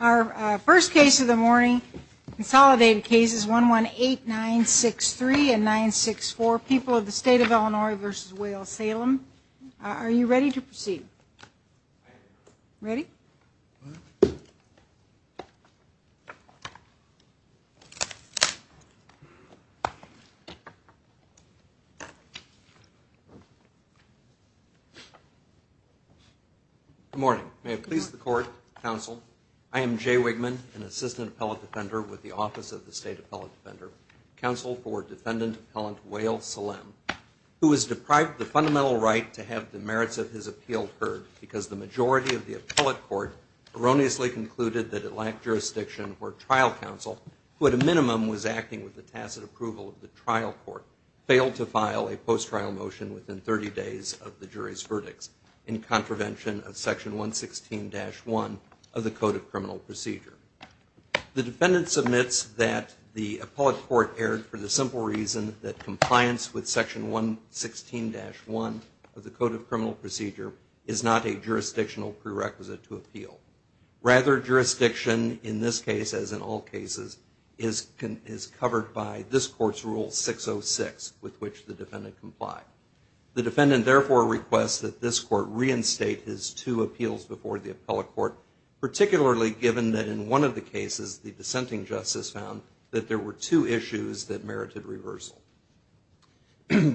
Our first case of the morning consolidated cases one one eight nine six three and nine six four people of the state of Illinois versus Wales Salem Are you ready to proceed? Ready Good morning, may it please the court counsel. I am Jay Wigman an assistant appellate defender with the office of the state appellate defender counsel for defendant appellant Wales Salem Who was deprived the fundamental right to have the merits of his appeal heard because the majority of the appellate court erroneously concluded that it lacked jurisdiction or trial counsel Who at a minimum was acting with the tacit approval of the trial court failed to file a post-trial motion within 30 days of the jury's verdicts in contravention of section 116 dash 1 of the code of criminal procedure The defendant submits that the appellate court erred for the simple reason that compliance with section 116 dash 1 of the code of criminal procedure is not a jurisdictional prerequisite to appeal Rather jurisdiction in this case as in all cases is Can is covered by this court's rule 606 with which the defendant complied The defendant therefore requests that this court reinstate his two appeals before the appellate court Particularly given that in one of the cases the dissenting justice found that there were two issues that merited reversal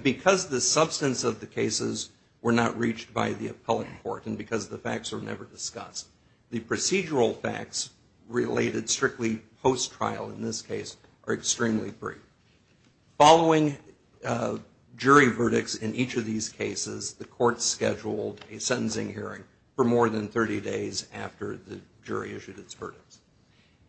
Because the substance of the cases were not reached by the appellate court and because the facts were never discussed the procedural facts Related strictly post trial in this case are extremely free following Jury verdicts in each of these cases the court's scheduled a sentencing hearing for more than 30 days after the jury issued its verdicts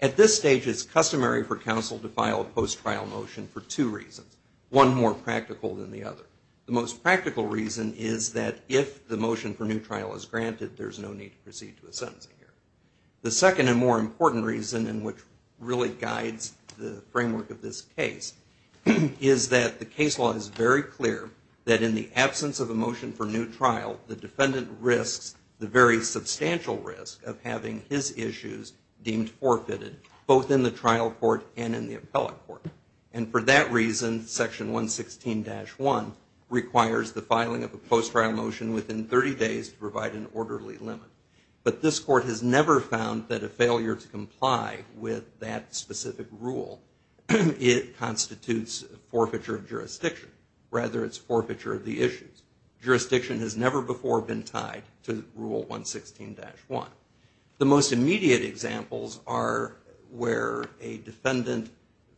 at this stage It's customary for counsel to file a post trial motion for two reasons one more practical than the other The most practical reason is that if the motion for new trial is granted There's no need to proceed to a sentencing here The second and more important reason in which really guides the framework of this case Is that the case law is very clear that in the absence of a motion for new trial the defendant risks the very Substantial risk of having his issues deemed forfeited both in the trial court and in the appellate court and for that reason section 116 dash 1 Requires the filing of a post trial motion within 30 days to provide an orderly limit But this court has never found that a failure to comply with that specific rule It constitutes forfeiture of jurisdiction rather its forfeiture of the issues Jurisdiction has never before been tied to rule 116 dash 1 the most immediate examples are Where a defendant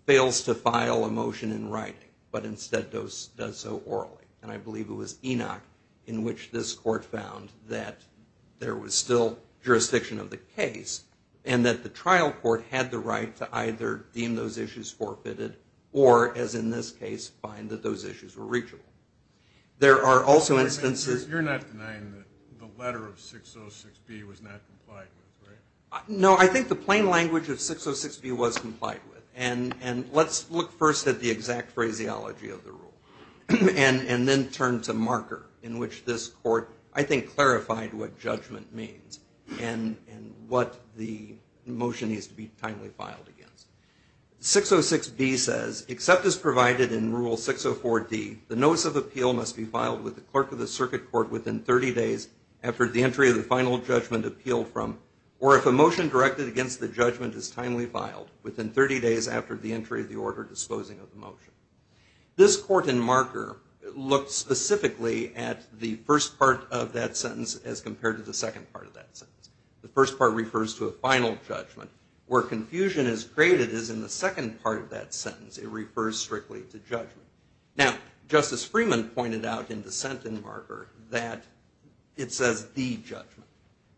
fails to file a motion in writing but instead does so orally and I believe it was Enoch in which this court found that there was still Jurisdiction of the case and that the trial court had the right to either deem those issues Forfeited or as in this case find that those issues were reachable There are also instances No, I think the plain language of 606 B was complied with and and let's look first at the exact phraseology of the rule And and then turn to marker in which this court I think clarified what judgment means and and what the motion needs to be timely filed against 606 B says except as provided in rule 604 D The notice of appeal must be filed with the clerk of the circuit court within 30 days after the entry of the final judgment appeal from or if a motion directed against the judgment is timely filed within 30 days after the entry of the order disposing of the motion This court in marker Looked specifically at the first part of that sentence as compared to the second part of that sentence The first part refers to a final judgment where confusion is created is in the second part of that sentence It refers strictly to judgment now Justice Freeman pointed out in dissent in marker that It says the judgment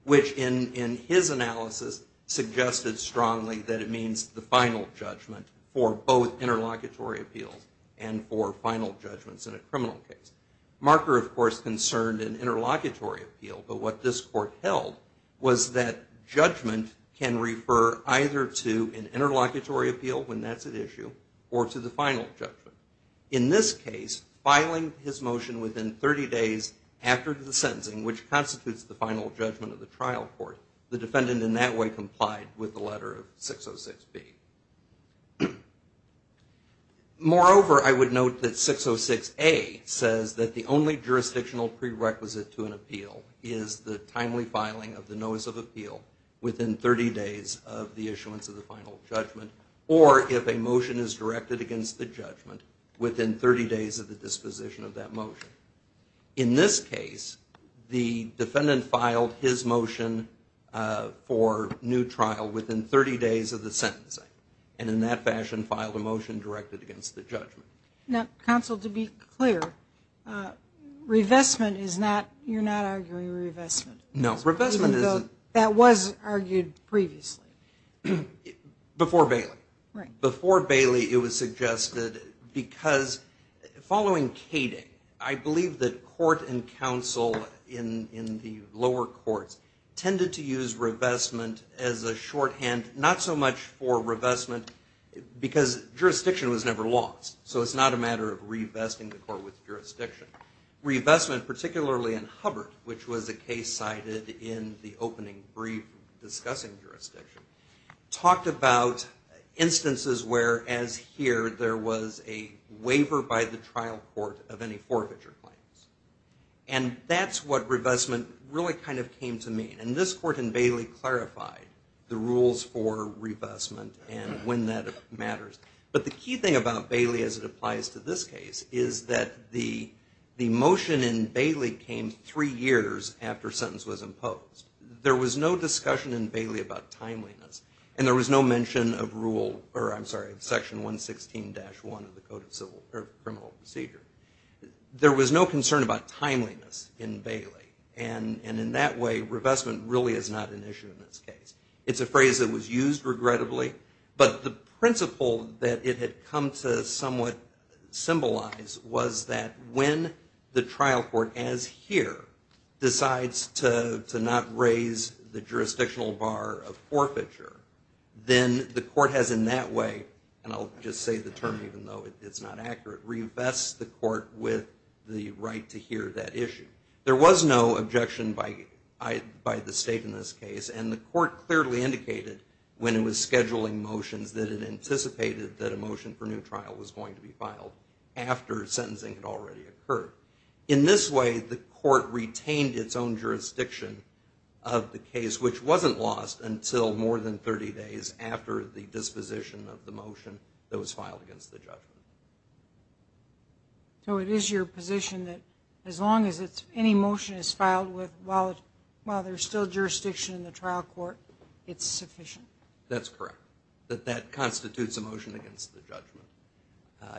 which in in his analysis Suggested strongly that it means the final judgment for both Interlocutory appeals and for final judgments in a criminal case marker, of course concerned an interlocutory appeal but what this court held was that Judgment can refer either to an interlocutory appeal when that's an issue or to the final judgment in this case Filing his motion within 30 days after the sentencing which constitutes the final judgment of the trial court Defendant in that way complied with the letter of 606 B Moreover I would note that 606 a says that the only jurisdictional prerequisite to an appeal is the timely filing of the notice of appeal within 30 days of the issuance of the final judgment or If a motion is directed against the judgment within 30 days of the disposition of that motion in this case The defendant filed his motion For new trial within 30 days of the sentencing and in that fashion filed a motion directed against the judgment now counsel to be clear Revestment is not you're not arguing revestment. No revestment. Is it that was argued previously? Before Bailey right before Bailey it was suggested because Following Kading I believe that court and counsel in in the lower courts Tended to use revestment as a shorthand not so much for revestment Because jurisdiction was never lost. So it's not a matter of revesting the court with jurisdiction Revestment particularly in Hubbard, which was a case cited in the opening brief discussing jurisdiction talked about instances where as here there was a waiver by the trial court of any forfeiture claims and That's what revestment really kind of came to mean and this court in Bailey clarified the rules for revestment and when that matters but the key thing about Bailey as it applies to this case is that the The motion in Bailey came three years after sentence was imposed There was no discussion in Bailey about timeliness and there was no mention of rule or I'm sorry section 116 dash one of the code of civil or criminal procedure There was no concern about timeliness in Bailey and and in that way revestment really is not an issue in this case It's a phrase that was used regrettably, but the principle that it had come to somewhat Symbolize was that when the trial court as here? Decides to not raise the jurisdictional bar of forfeiture Then the court has in that way and I'll just say the term even though it's not accurate Revest the court with the right to hear that issue There was no objection by I by the state in this case and the court clearly indicated When it was scheduling motions that it anticipated that a motion for new trial was going to be filed After sentencing had already occurred in this way the court retained its own jurisdiction of the case Which wasn't lost until more than 30 days after the disposition of the motion that was filed against the judgment? So it is your position that as long as it's any motion is filed with while While there's still jurisdiction in the trial court. It's sufficient. That's correct that that constitutes a motion against the judgment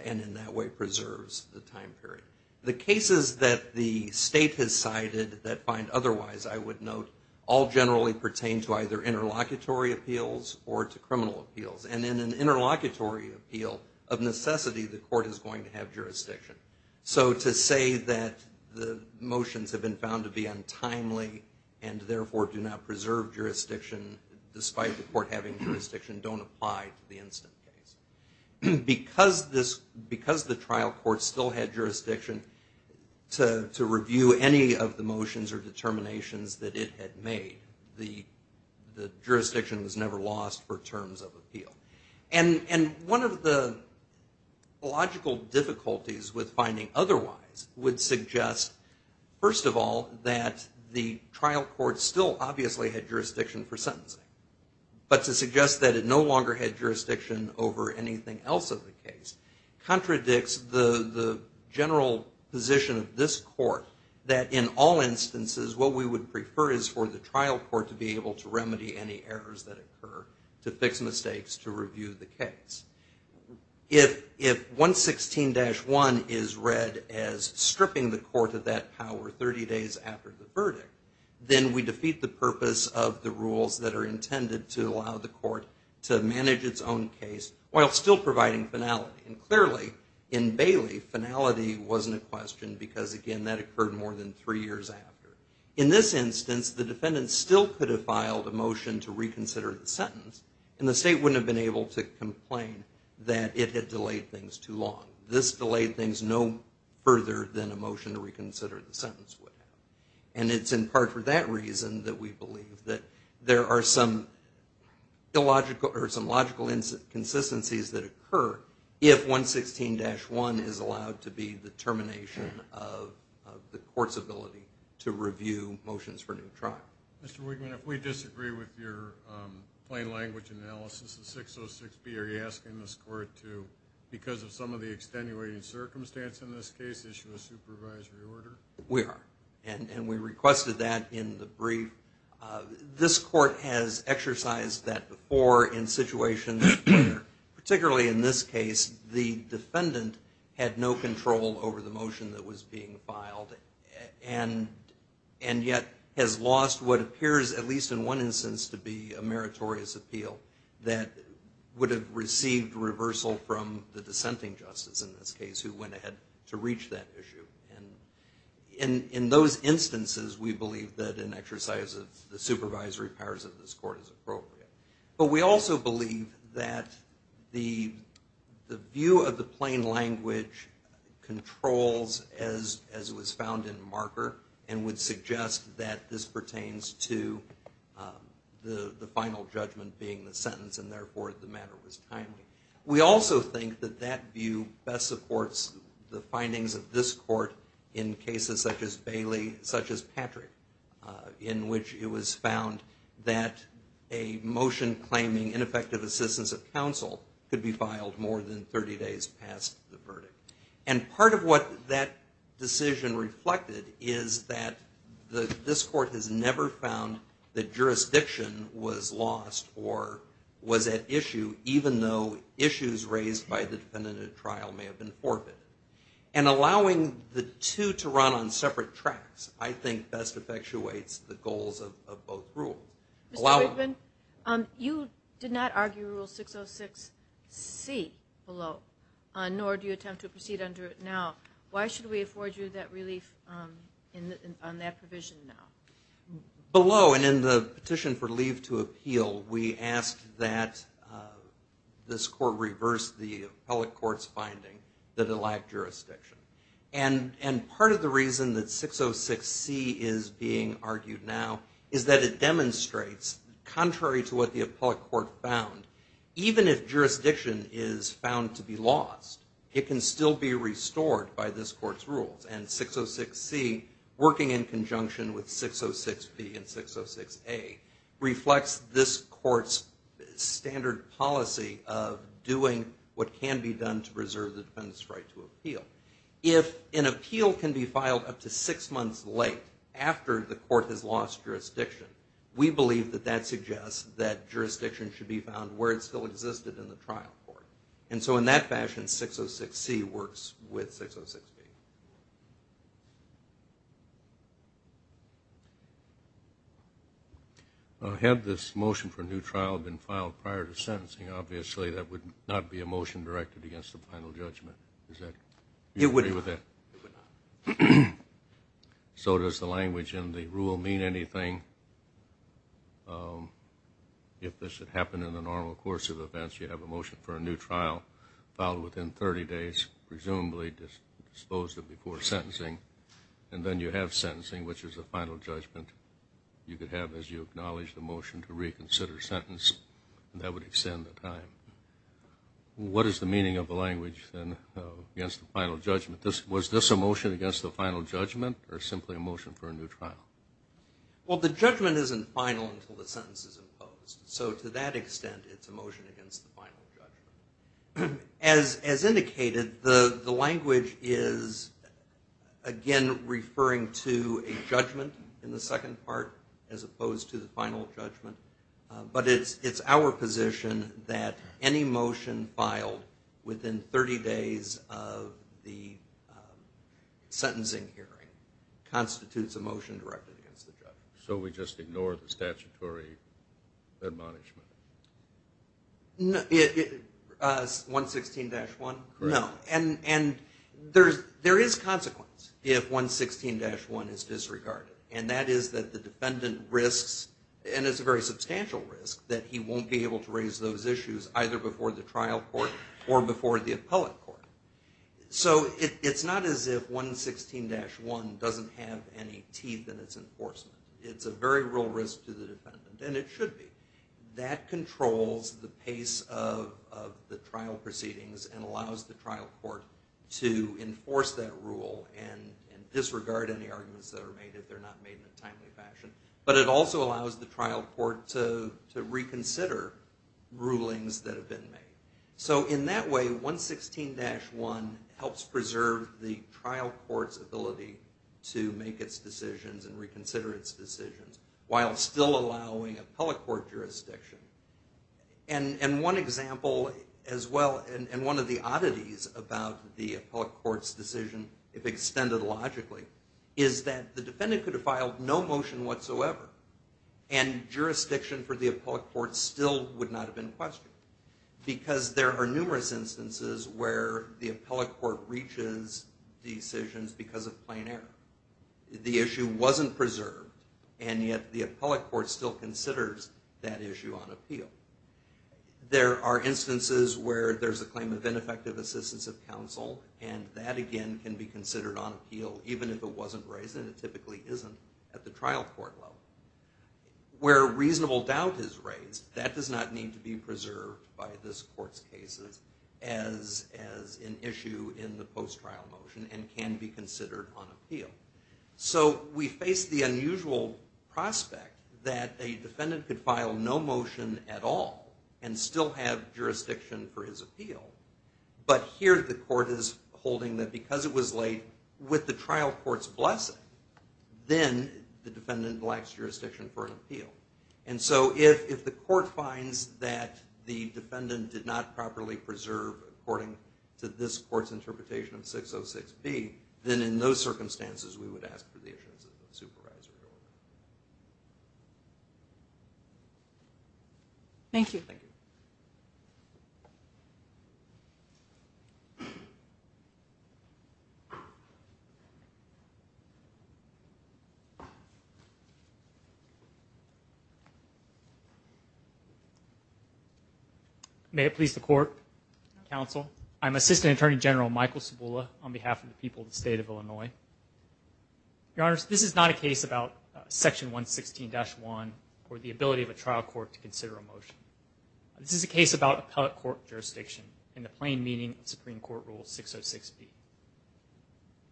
And in that way preserves the time period the cases that the state has cited that find otherwise I would note all generally pertain to either Interlocutory appeals or to criminal appeals and in an interlocutory appeal of necessity the court is going to have jurisdiction So to say that the motions have been found to be untimely and therefore do not preserve Jurisdiction despite the court having jurisdiction don't apply to the instant case Because this because the trial court still had jurisdiction To review any of the motions or determinations that it had made the the jurisdiction was never lost for terms of appeal and and one of the Logical difficulties with finding otherwise would suggest First of all that the trial court still obviously had jurisdiction for sentencing But to suggest that it no longer had jurisdiction over anything else of the case Contradicts the general position of this court that in all Instances what we would prefer is for the trial court to be able to remedy any errors that occur to fix mistakes to review the case If if 116-1 is read as stripping the court of that power 30 days after the verdict Then we defeat the purpose of the rules that are intended to allow the court to manage its own case While still providing finality and clearly in Bailey finality wasn't a question because again that occurred more than three years after In this instance the defendants still could have filed a motion to reconsider the sentence and the state wouldn't have been able to Complain that it had delayed things too long this delayed things no further than a motion to reconsider the sentence would have and it's in part for that reason that we believe that there are some Illogical or some logical inconsistencies that occur if 116-1 is allowed to be the termination of The court's ability to review motions for new trial. Mr. Wigman if we disagree with your plain language analysis of 606 B Are you asking this court to because of some of the extenuating circumstance in this case issue a supervisory order? We are and and we requested that in the brief This court has exercised that before in situations particularly in this case the defendant had no control over the motion that was being filed and and yet has lost what appears at least in one instance to be a meritorious appeal that would have received reversal from the dissenting justice in this case who went ahead to reach that issue and In those instances we believe that an exercise of the supervisory powers of this court is appropriate but we also believe that the the view of the plain language Controls as as was found in marker and would suggest that this pertains to The the final judgment being the sentence and therefore the matter was timely We also think that that view best supports the findings of this court in cases such as Bailey such as Patrick in which it was found that a motion claiming ineffective assistance of counsel could be filed more than 30 days past the verdict and part of what that decision reflected is that the this court has never found that jurisdiction was lost or Was at issue even though issues raised by the defendant at trial may have been forfeited and Allowing the two to run on separate tracks. I think best effectuates the goals of both rule allow You did not argue rule 606 C below nor do you attempt to proceed under it now? Why should we afford you that relief? in that provision now Below and in the petition for leave to appeal we asked that this court reversed the appellate courts finding that it lacked jurisdiction and And part of the reason that 606 C is being argued now is that it demonstrates Contrary to what the appellate court found even if jurisdiction is found to be lost It can still be restored by this court's rules and 606 C Working in conjunction with 606 B and 606 a reflects this court's Standard policy of doing what can be done to preserve the defendants right to appeal if an appeal can be filed up To six months late after the court has lost jurisdiction We believe that that suggests that jurisdiction should be found where it still existed in the trial court And so in that fashion 606 C works with 606 I Had this motion for a new trial been filed prior to sentencing obviously that would not be a motion directed against the final judgment Is that it would be with it? So does the language in the rule mean anything If this had happened in the normal course of events you have a motion for a new trial filed within 30 days presumably Disposed of before sentencing and then you have sentencing which is a final judgment You could have as you acknowledge the motion to reconsider sentence and that would extend the time What is the meaning of the language then? Against the final judgment this was this emotion against the final judgment or simply a motion for a new trial Well, the judgment isn't final until the sentence is imposed. So to that extent it's a motion against the final judgment As as indicated the the language is Again, referring to a judgment in the second part as opposed to the final judgment but it's it's our position that any motion filed within 30 days of the Sentencing hearing constitutes a motion directed against the judge. So we just ignore the statutory admonishment No 116-1 no, and and there's there is consequence if 116-1 is disregarded and that is that the defendant risks and it's a very substantial risk that he won't be able to raise those issues Either before the trial court or before the appellate court So it's not as if 116-1 doesn't have any teeth in its enforcement it's a very real risk to the defendant and it should be that controls the pace of the trial proceedings and allows the trial court to enforce that rule and Disregard any arguments that are made if they're not made in a timely fashion, but it also allows the trial court to reconsider rulings that have been made so in that way 116-1 helps preserve the trial court's ability to make its decisions and reconsider its decisions while still allowing appellate court jurisdiction and And one example as well and one of the oddities about the appellate court's decision if extended logically is that the defendant could have filed no motion whatsoever and Jurisdiction for the appellate court still would not have been questioned because there are numerous instances where the appellate court reaches decisions because of plain error The issue wasn't preserved and yet the appellate court still considers that issue on appeal There are instances where there's a claim of ineffective assistance of counsel and that again can be considered on appeal Even if it wasn't raised and it typically isn't at the trial court level Where reasonable doubt is raised that does not need to be preserved by this court's cases as As an issue in the post trial motion and can be considered on appeal So we face the unusual Prospect that a defendant could file no motion at all and still have jurisdiction for his appeal But here the court is holding that because it was late with the trial courts blessing then the defendant lacks jurisdiction for an appeal and so if the court finds that the Defendant did not properly preserve according to this court's interpretation of 606 B Then in those circumstances we would ask for the assistance of the supervisor Thank you You May it please the court Counsel, I'm assistant attorney general Michael Sabula on behalf of the people of the state of Illinois Your honors. This is not a case about Section 116 dash 1 or the ability of a trial court to consider a motion This is a case about appellate court jurisdiction in the plain meaning of Supreme Court rule 606 B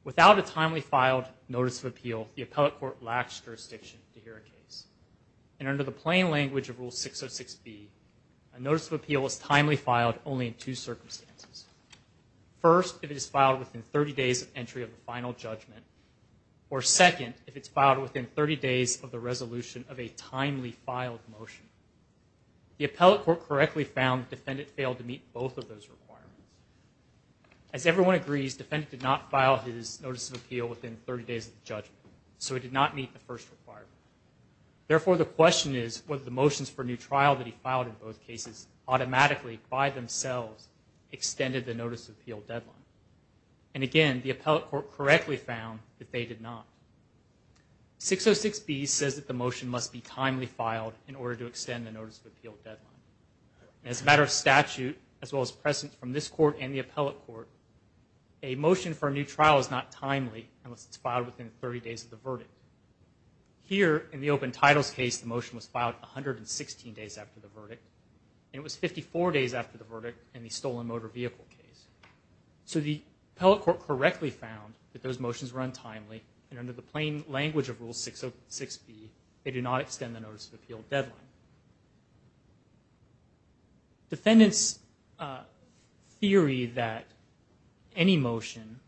Without a timely filed notice of appeal the appellate court lacks jurisdiction to hear a case And under the plain language of rule 606 B a notice of appeal is timely filed only in two circumstances first if it is filed within 30 days of entry of the final judgment or Second if it's filed within 30 days of the resolution of a timely filed motion the appellate court correctly found defendant failed to meet both of those requirements as Everyone agrees defendant did not file his notice of appeal within 30 days of judgment. So he did not meet the first required Therefore the question is what the motions for new trial that he filed in both cases automatically by themselves extended the notice of appeal deadline and Again, the appellate court correctly found that they did not 606 B says that the motion must be timely filed in order to extend the notice of appeal deadline as a matter of statute as well as present from this court and the appellate court a Motion for a new trial is not timely unless it's filed within 30 days of the verdict Here in the open titles case the motion was filed 116 days after the verdict And it was 54 days after the verdict and the stolen motor vehicle case So the appellate court correctly found that those motions run timely and under the plain language of rule 606 B They do not extend the notice of appeal deadline Defendants theory that any motion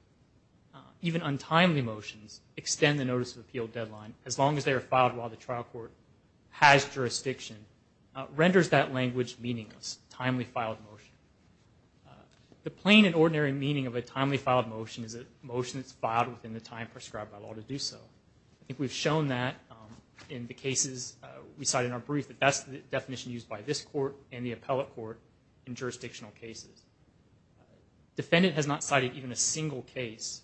Even untimely motions extend the notice of appeal deadline as long as they are filed while the trial court has jurisdiction renders that language meaningless timely filed motion The plain and ordinary meaning of a timely filed motion is a motion that's filed within the time prescribed by law to do so I think we've shown that In the cases we cite in our brief that that's the definition used by this court and the appellate court in jurisdictional cases Defendant has not cited even a single case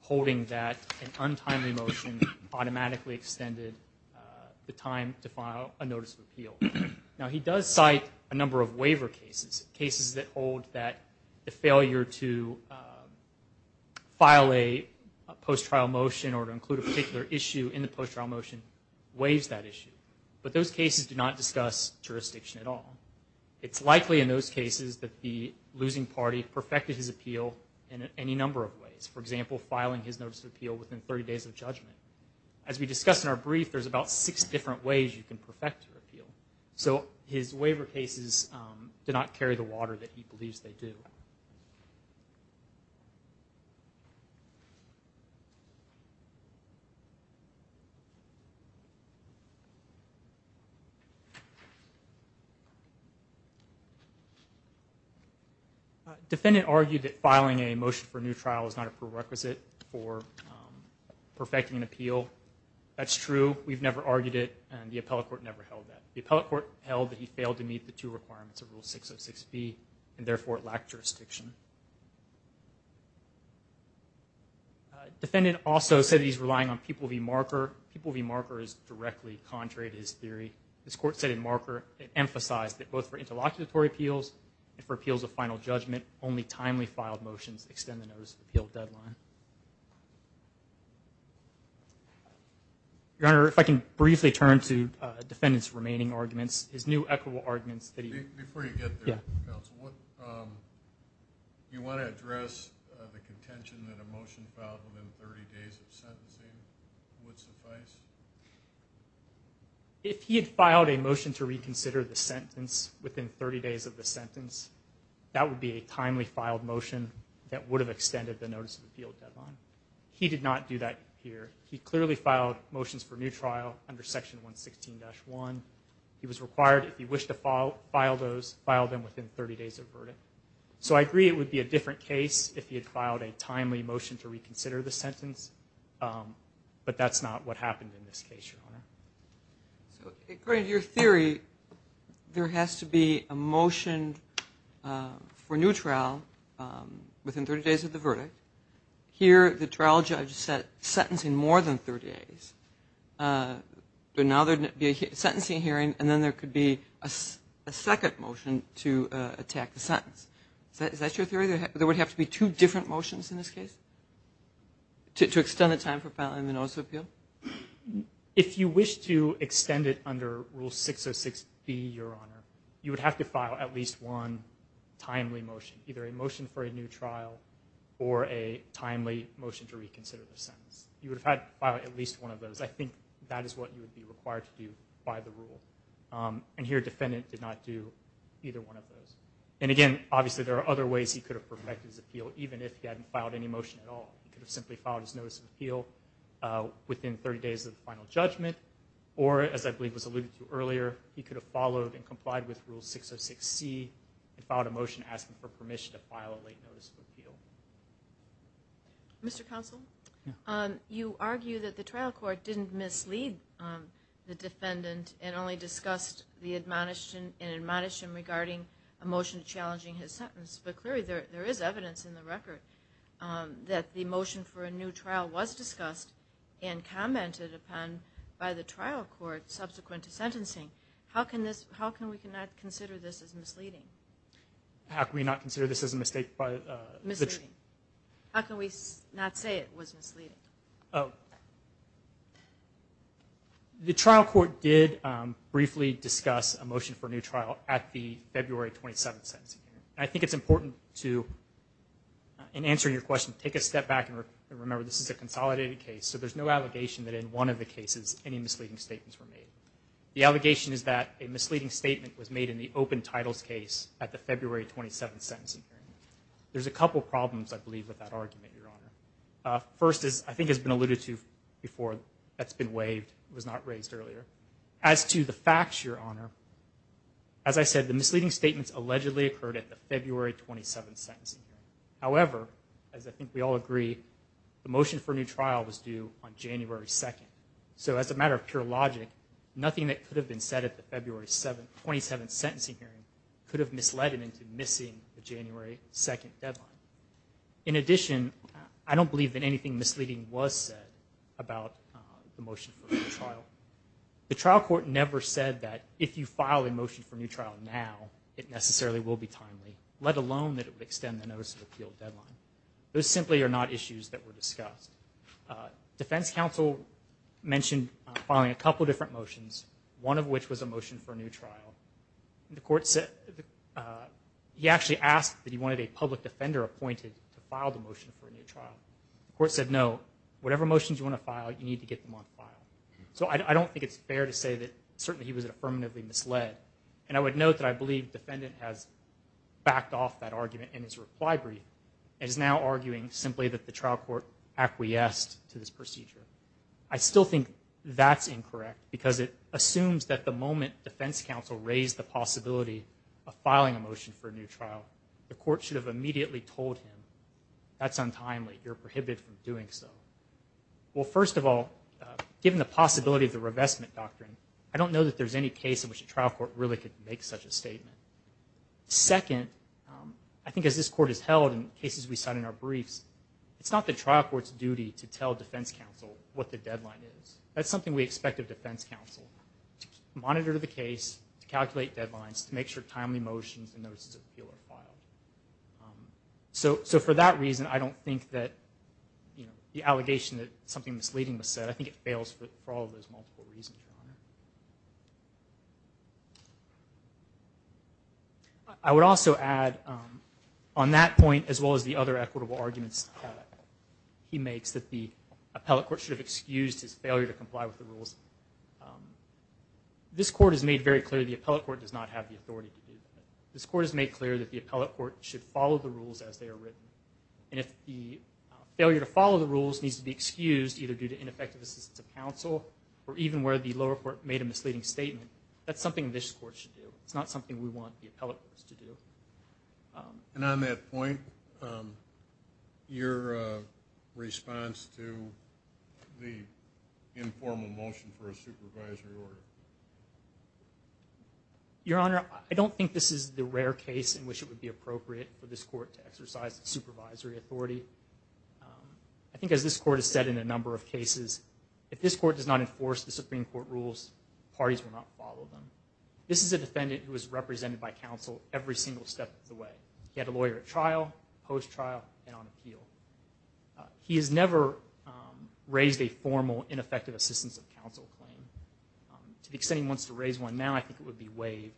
holding that an untimely motion automatically extended The time to file a notice of appeal now he does cite a number of waiver cases cases that hold that the failure to File a Post-trial motion or to include a particular issue in the post-trial motion waives that issue, but those cases do not discuss jurisdiction at all It's likely in those cases that the losing party perfected his appeal in any number of ways For example filing his notice of appeal within 30 days of judgment as we discussed in our brief There's about six different ways you can perfect your appeal. So his waiver cases did not carry the water that he believes they do You Defendant argued that filing a motion for a new trial is not a prerequisite for Perfecting an appeal That's true We've never argued it and the appellate court never held that the appellate court held that he failed to meet the two requirements of rule 606 B and therefore it lacked jurisdiction A Defendant also said he's relying on people V marker people V marker is directly contrary to his theory This court said in marker it emphasized that both for interlocutory appeals and for appeals of final judgment only timely filed motions Extend the notice of appeal deadline Your honor if I can briefly turn to defendants remaining arguments his new equitable arguments Yeah, you want to address the contention that a motion filed within 30 days of sentencing If he had filed a motion to reconsider the sentence within 30 days of the sentence That would be a timely filed motion that would have extended the notice of appeal deadline. He did not do that here He clearly filed motions for new trial under section 116 dash 1 He was required if you wish to file file those file them within 30 days of verdict So I agree it would be a different case if he had filed a timely motion to reconsider the sentence But that's not what happened in this case According to your theory there has to be a motion for neutral Within 30 days of the verdict here the trial judge set sentencing more than 30 days But now there'd be a sentencing hearing and then there could be a Second motion to attack the sentence that is that your theory there would have to be two different motions in this case To extend the time for filing the notice of appeal If you wish to extend it under rule 606 be your honor you would have to file at least one Timely motion either a motion for a new trial or a timely motion to reconsider the sentence You would have had at least one of those. I think that is what you would be required to do by the rule And here defendant did not do either one of those and again Obviously, there are other ways he could have perfected his appeal even if he hadn't filed any motion at all He could have simply filed his notice of appeal Within 30 days of the final judgment or as I believe was alluded to earlier He could have followed and complied with rule 606 C and filed a motion asking for permission to file a late notice of appeal Mr. Counsel You argue that the trial court didn't mislead The defendant and only discussed the admonition in admonition regarding a motion challenging his sentence But clearly there there is evidence in the record that the motion for a new trial was discussed and Commented upon by the trial court subsequent to sentencing. How can this how can we cannot consider this as misleading? How can we not consider this as a mistake by the tree how can we not say it was misleading Oh The trial court did briefly discuss a motion for a new trial at the February 27th sentencing. I think it's important to In answering your question take a step back and remember this is a consolidated case So there's no allegation that in one of the cases any misleading statements were made The allegation is that a misleading statement was made in the open titles case at the February 27th sentencing there's a couple problems I believe with that argument your honor First is I think has been alluded to before that's been waived. It was not raised earlier as to the facts your honor As I said the misleading statements allegedly occurred at the February 27th sentencing However, as I think we all agree the motion for a new trial was due on January 2nd So as a matter of pure logic Nothing that could have been said at the February 7th 27th sentencing hearing could have misled it into missing the January 2nd deadline In addition, I don't believe that anything misleading was said about the motion The trial court never said that if you file a motion for a new trial now It necessarily will be timely let alone that it would extend the notice of appeal deadline. Those simply are not issues that were discussed Defense counsel mentioned following a couple different motions one of which was a motion for a new trial the court said He actually asked that he wanted a public defender appointed to file the motion for a new trial The court said no whatever motions you want to file you need to get them on file So I don't think it's fair to say that certainly he was affirmatively misled and I would note that I believe defendant has Is now arguing simply that the trial court acquiesced to this procedure I still think that's incorrect because it assumes that the moment defense counsel raised the possibility of Filing a motion for a new trial the court should have immediately told him that's untimely you're prohibited from doing so well, first of all Given the possibility of the revestment doctrine. I don't know that there's any case in which a trial court really could make such a statement Second I think as this court is held in cases we cite in our briefs It's not the trial court's duty to tell defense counsel what the deadline is. That's something we expect of defense counsel Monitor to the case to calculate deadlines to make sure timely motions and notices of appeal are filed So so for that reason, I don't think that you know the allegation that something misleading was said I think it fails for all those multiple reasons I would also add on that point as well as the other equitable arguments He makes that the appellate court should have excused his failure to comply with the rules This court has made very clear the appellate court does not have the authority to do this court has made clear that the appellate court should follow the rules as they are written and if the Failure to follow the rules needs to be excused either due to ineffective assistance of counsel Or even where the lower court made a misleading statement. That's something this court should do It's not something we want the appellate courts to do and on that point Your response to the informal motion for a supervisory order Your honor I don't think this is the rare case in which it would be appropriate for this court to exercise the supervisory authority I think as this court has said in a number of cases if this court does not enforce the Supreme Court rules Parties will not follow them. This is a defendant who was represented by counsel every single step of the way He had a lawyer at trial post trial and on appeal He has never Raised a formal ineffective assistance of counsel claim To the extent he wants to raise one now, I think it would be waived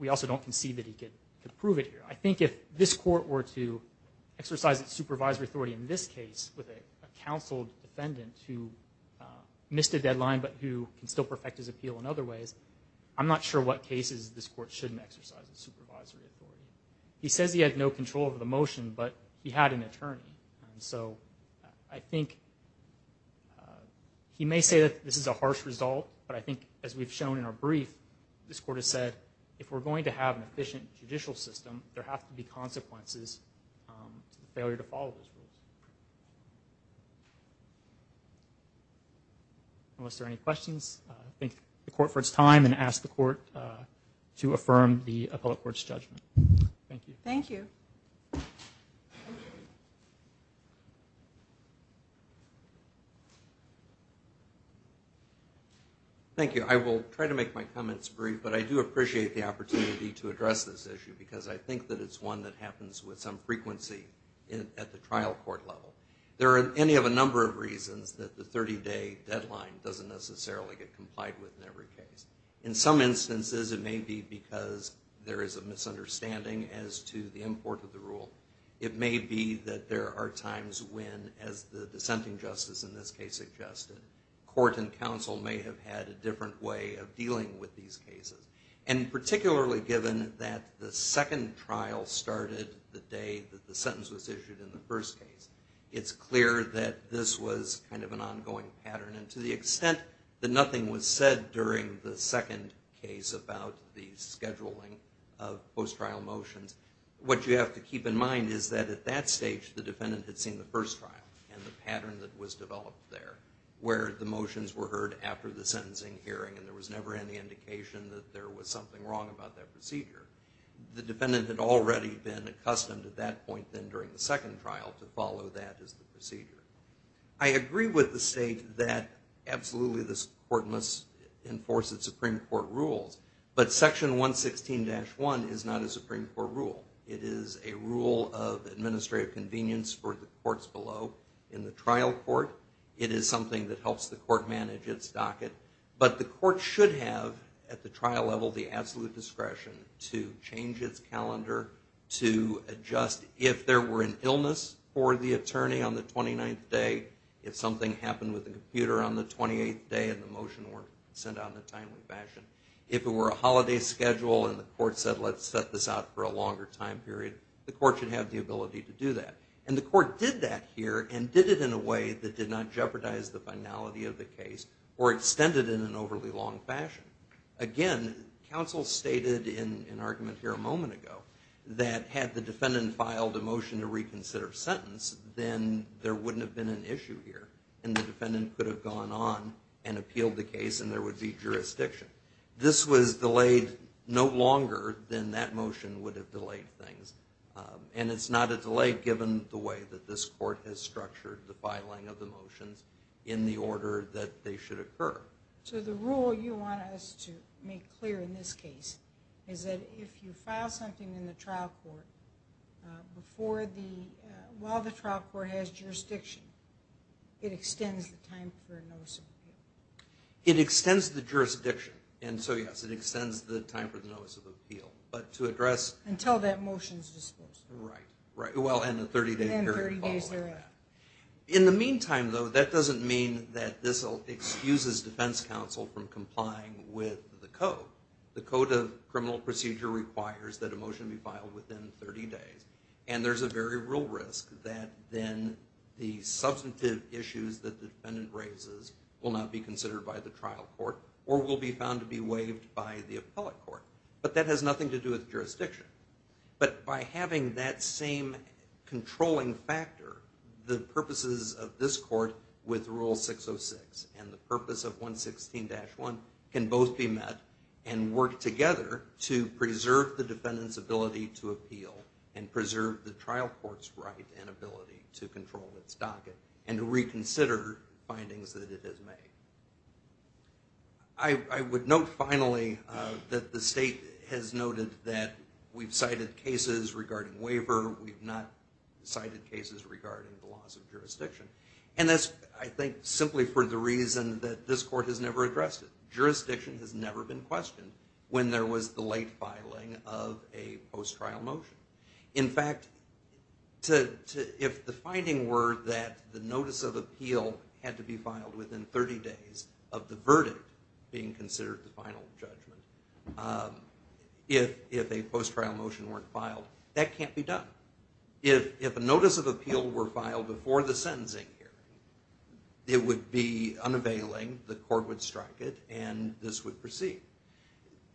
We also don't concede that he could prove it here I think if this court were to exercise its supervisory authority in this case with a counseled defendant who Missed a deadline, but who can still perfect his appeal in other ways. I'm not sure what cases this court shouldn't exercise the supervisory authority He says he had no control over the motion, but he had an attorney and so I think He may say that this is a harsh result But I think as we've shown in our brief this court has said if we're going to have an efficient judicial system There have to be consequences failure to follow Unless there any questions, thank the court for its time and ask the court to affirm the appellate courts judgment. Thank you. Thank you Thank you, I will try to make my comments brief But I do appreciate the opportunity to address this issue because I think that it's one that happens with some frequency At the trial court level there are any of a number of reasons that the 30-day Deadline doesn't necessarily get complied with in every case in some instances It may be because there is a misunderstanding as to the import of the rule It may be that there are times when as the dissenting justice in this case suggested court and counsel may have had a different way of dealing with these cases and Particularly given that the second trial started the day that the sentence was issued in the first case It's clear that this was kind of an ongoing pattern and to the extent that nothing was said during the second case about the scheduling of post-trial motions What you have to keep in mind is that at that stage the defendant had seen the first trial and the pattern that was developed Where the motions were heard after the sentencing hearing and there was never any indication that there was something wrong about that procedure The defendant had already been accustomed at that point then during the second trial to follow that as the procedure. I Agree with the state that Absolutely, this court must enforce the Supreme Court rules But section 116-1 is not a Supreme Court rule It is a rule of administrative convenience for the courts below in the trial court It is something that helps the court manage its docket but the court should have at the trial level the absolute discretion to change its calendar to adjust if there were an illness for the attorney on the 29th day if something happened with the computer on the 28th day and the motion were sent out in a timely fashion if it were a Holiday schedule and the court said let's set this out for a longer time period The court should have the ability to do that and the court did that here and did it in a way that did not jeopardize The finality of the case or extended in an overly long fashion again Counsel stated in an argument here a moment ago that had the defendant filed a motion to reconsider Sentence then there wouldn't have been an issue here and the defendant could have gone on and appealed the case and there would be And it's not a delay given the way that this court has structured the filing of the motions in the order that they should occur So the rule you want us to make clear in this case is that if you file something in the trial court before the while the trial court has jurisdiction It extends the time It extends the jurisdiction and so yes Extends the time for the notice of appeal but to address until that motions Right, right. Well in the 30 day period In the meantime, though That doesn't mean that this will excuses defense counsel from complying with the code the code of criminal procedure requires that a motion be filed within 30 days and there's a very real risk that then the Substantive issues that the defendant raises will not be considered by the trial court or will be found to be waived by the appellate court But that has nothing to do with jurisdiction But by having that same controlling factor the purposes of this court with rule 606 and the purpose of 116 dash 1 can both be met and work together to Preserve the trial court's right and ability to control its docket and to reconsider findings that it has made. I Would note finally that the state has noted that we've cited cases regarding waiver We've not cited cases regarding the laws of jurisdiction and this I think simply for the reason that this court has never addressed it Jurisdiction has never been questioned when there was the late filing of a post trial motion in fact to if the finding were that the notice of appeal had to be filed within 30 days of the verdict being considered the final judgment If if a post trial motion weren't filed that can't be done if if a notice of appeal were filed before the sentencing here It would be unavailing the court would strike it and this would proceed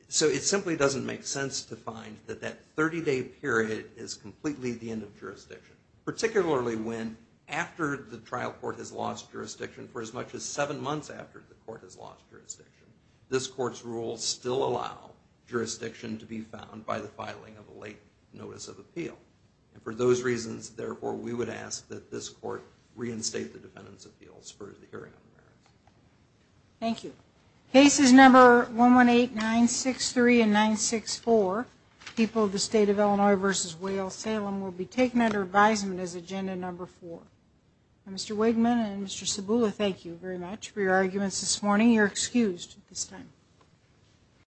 So it simply doesn't make sense to find that that 30-day period is completely the end of jurisdiction Particularly when after the trial court has lost jurisdiction for as much as seven months after the court has lost jurisdiction This court's rules still allow Jurisdiction to be found by the filing of a late notice of appeal and for those reasons therefore We would ask that this court reinstate the defendants appeals for the hearing Thank you cases number one one eight nine six three and nine six four People of the state of Illinois versus Wales Salem will be taken under advisement as agenda number four Mr.. Wigman and mr.. Sabula. Thank you very much for your arguments this morning. You're excused this time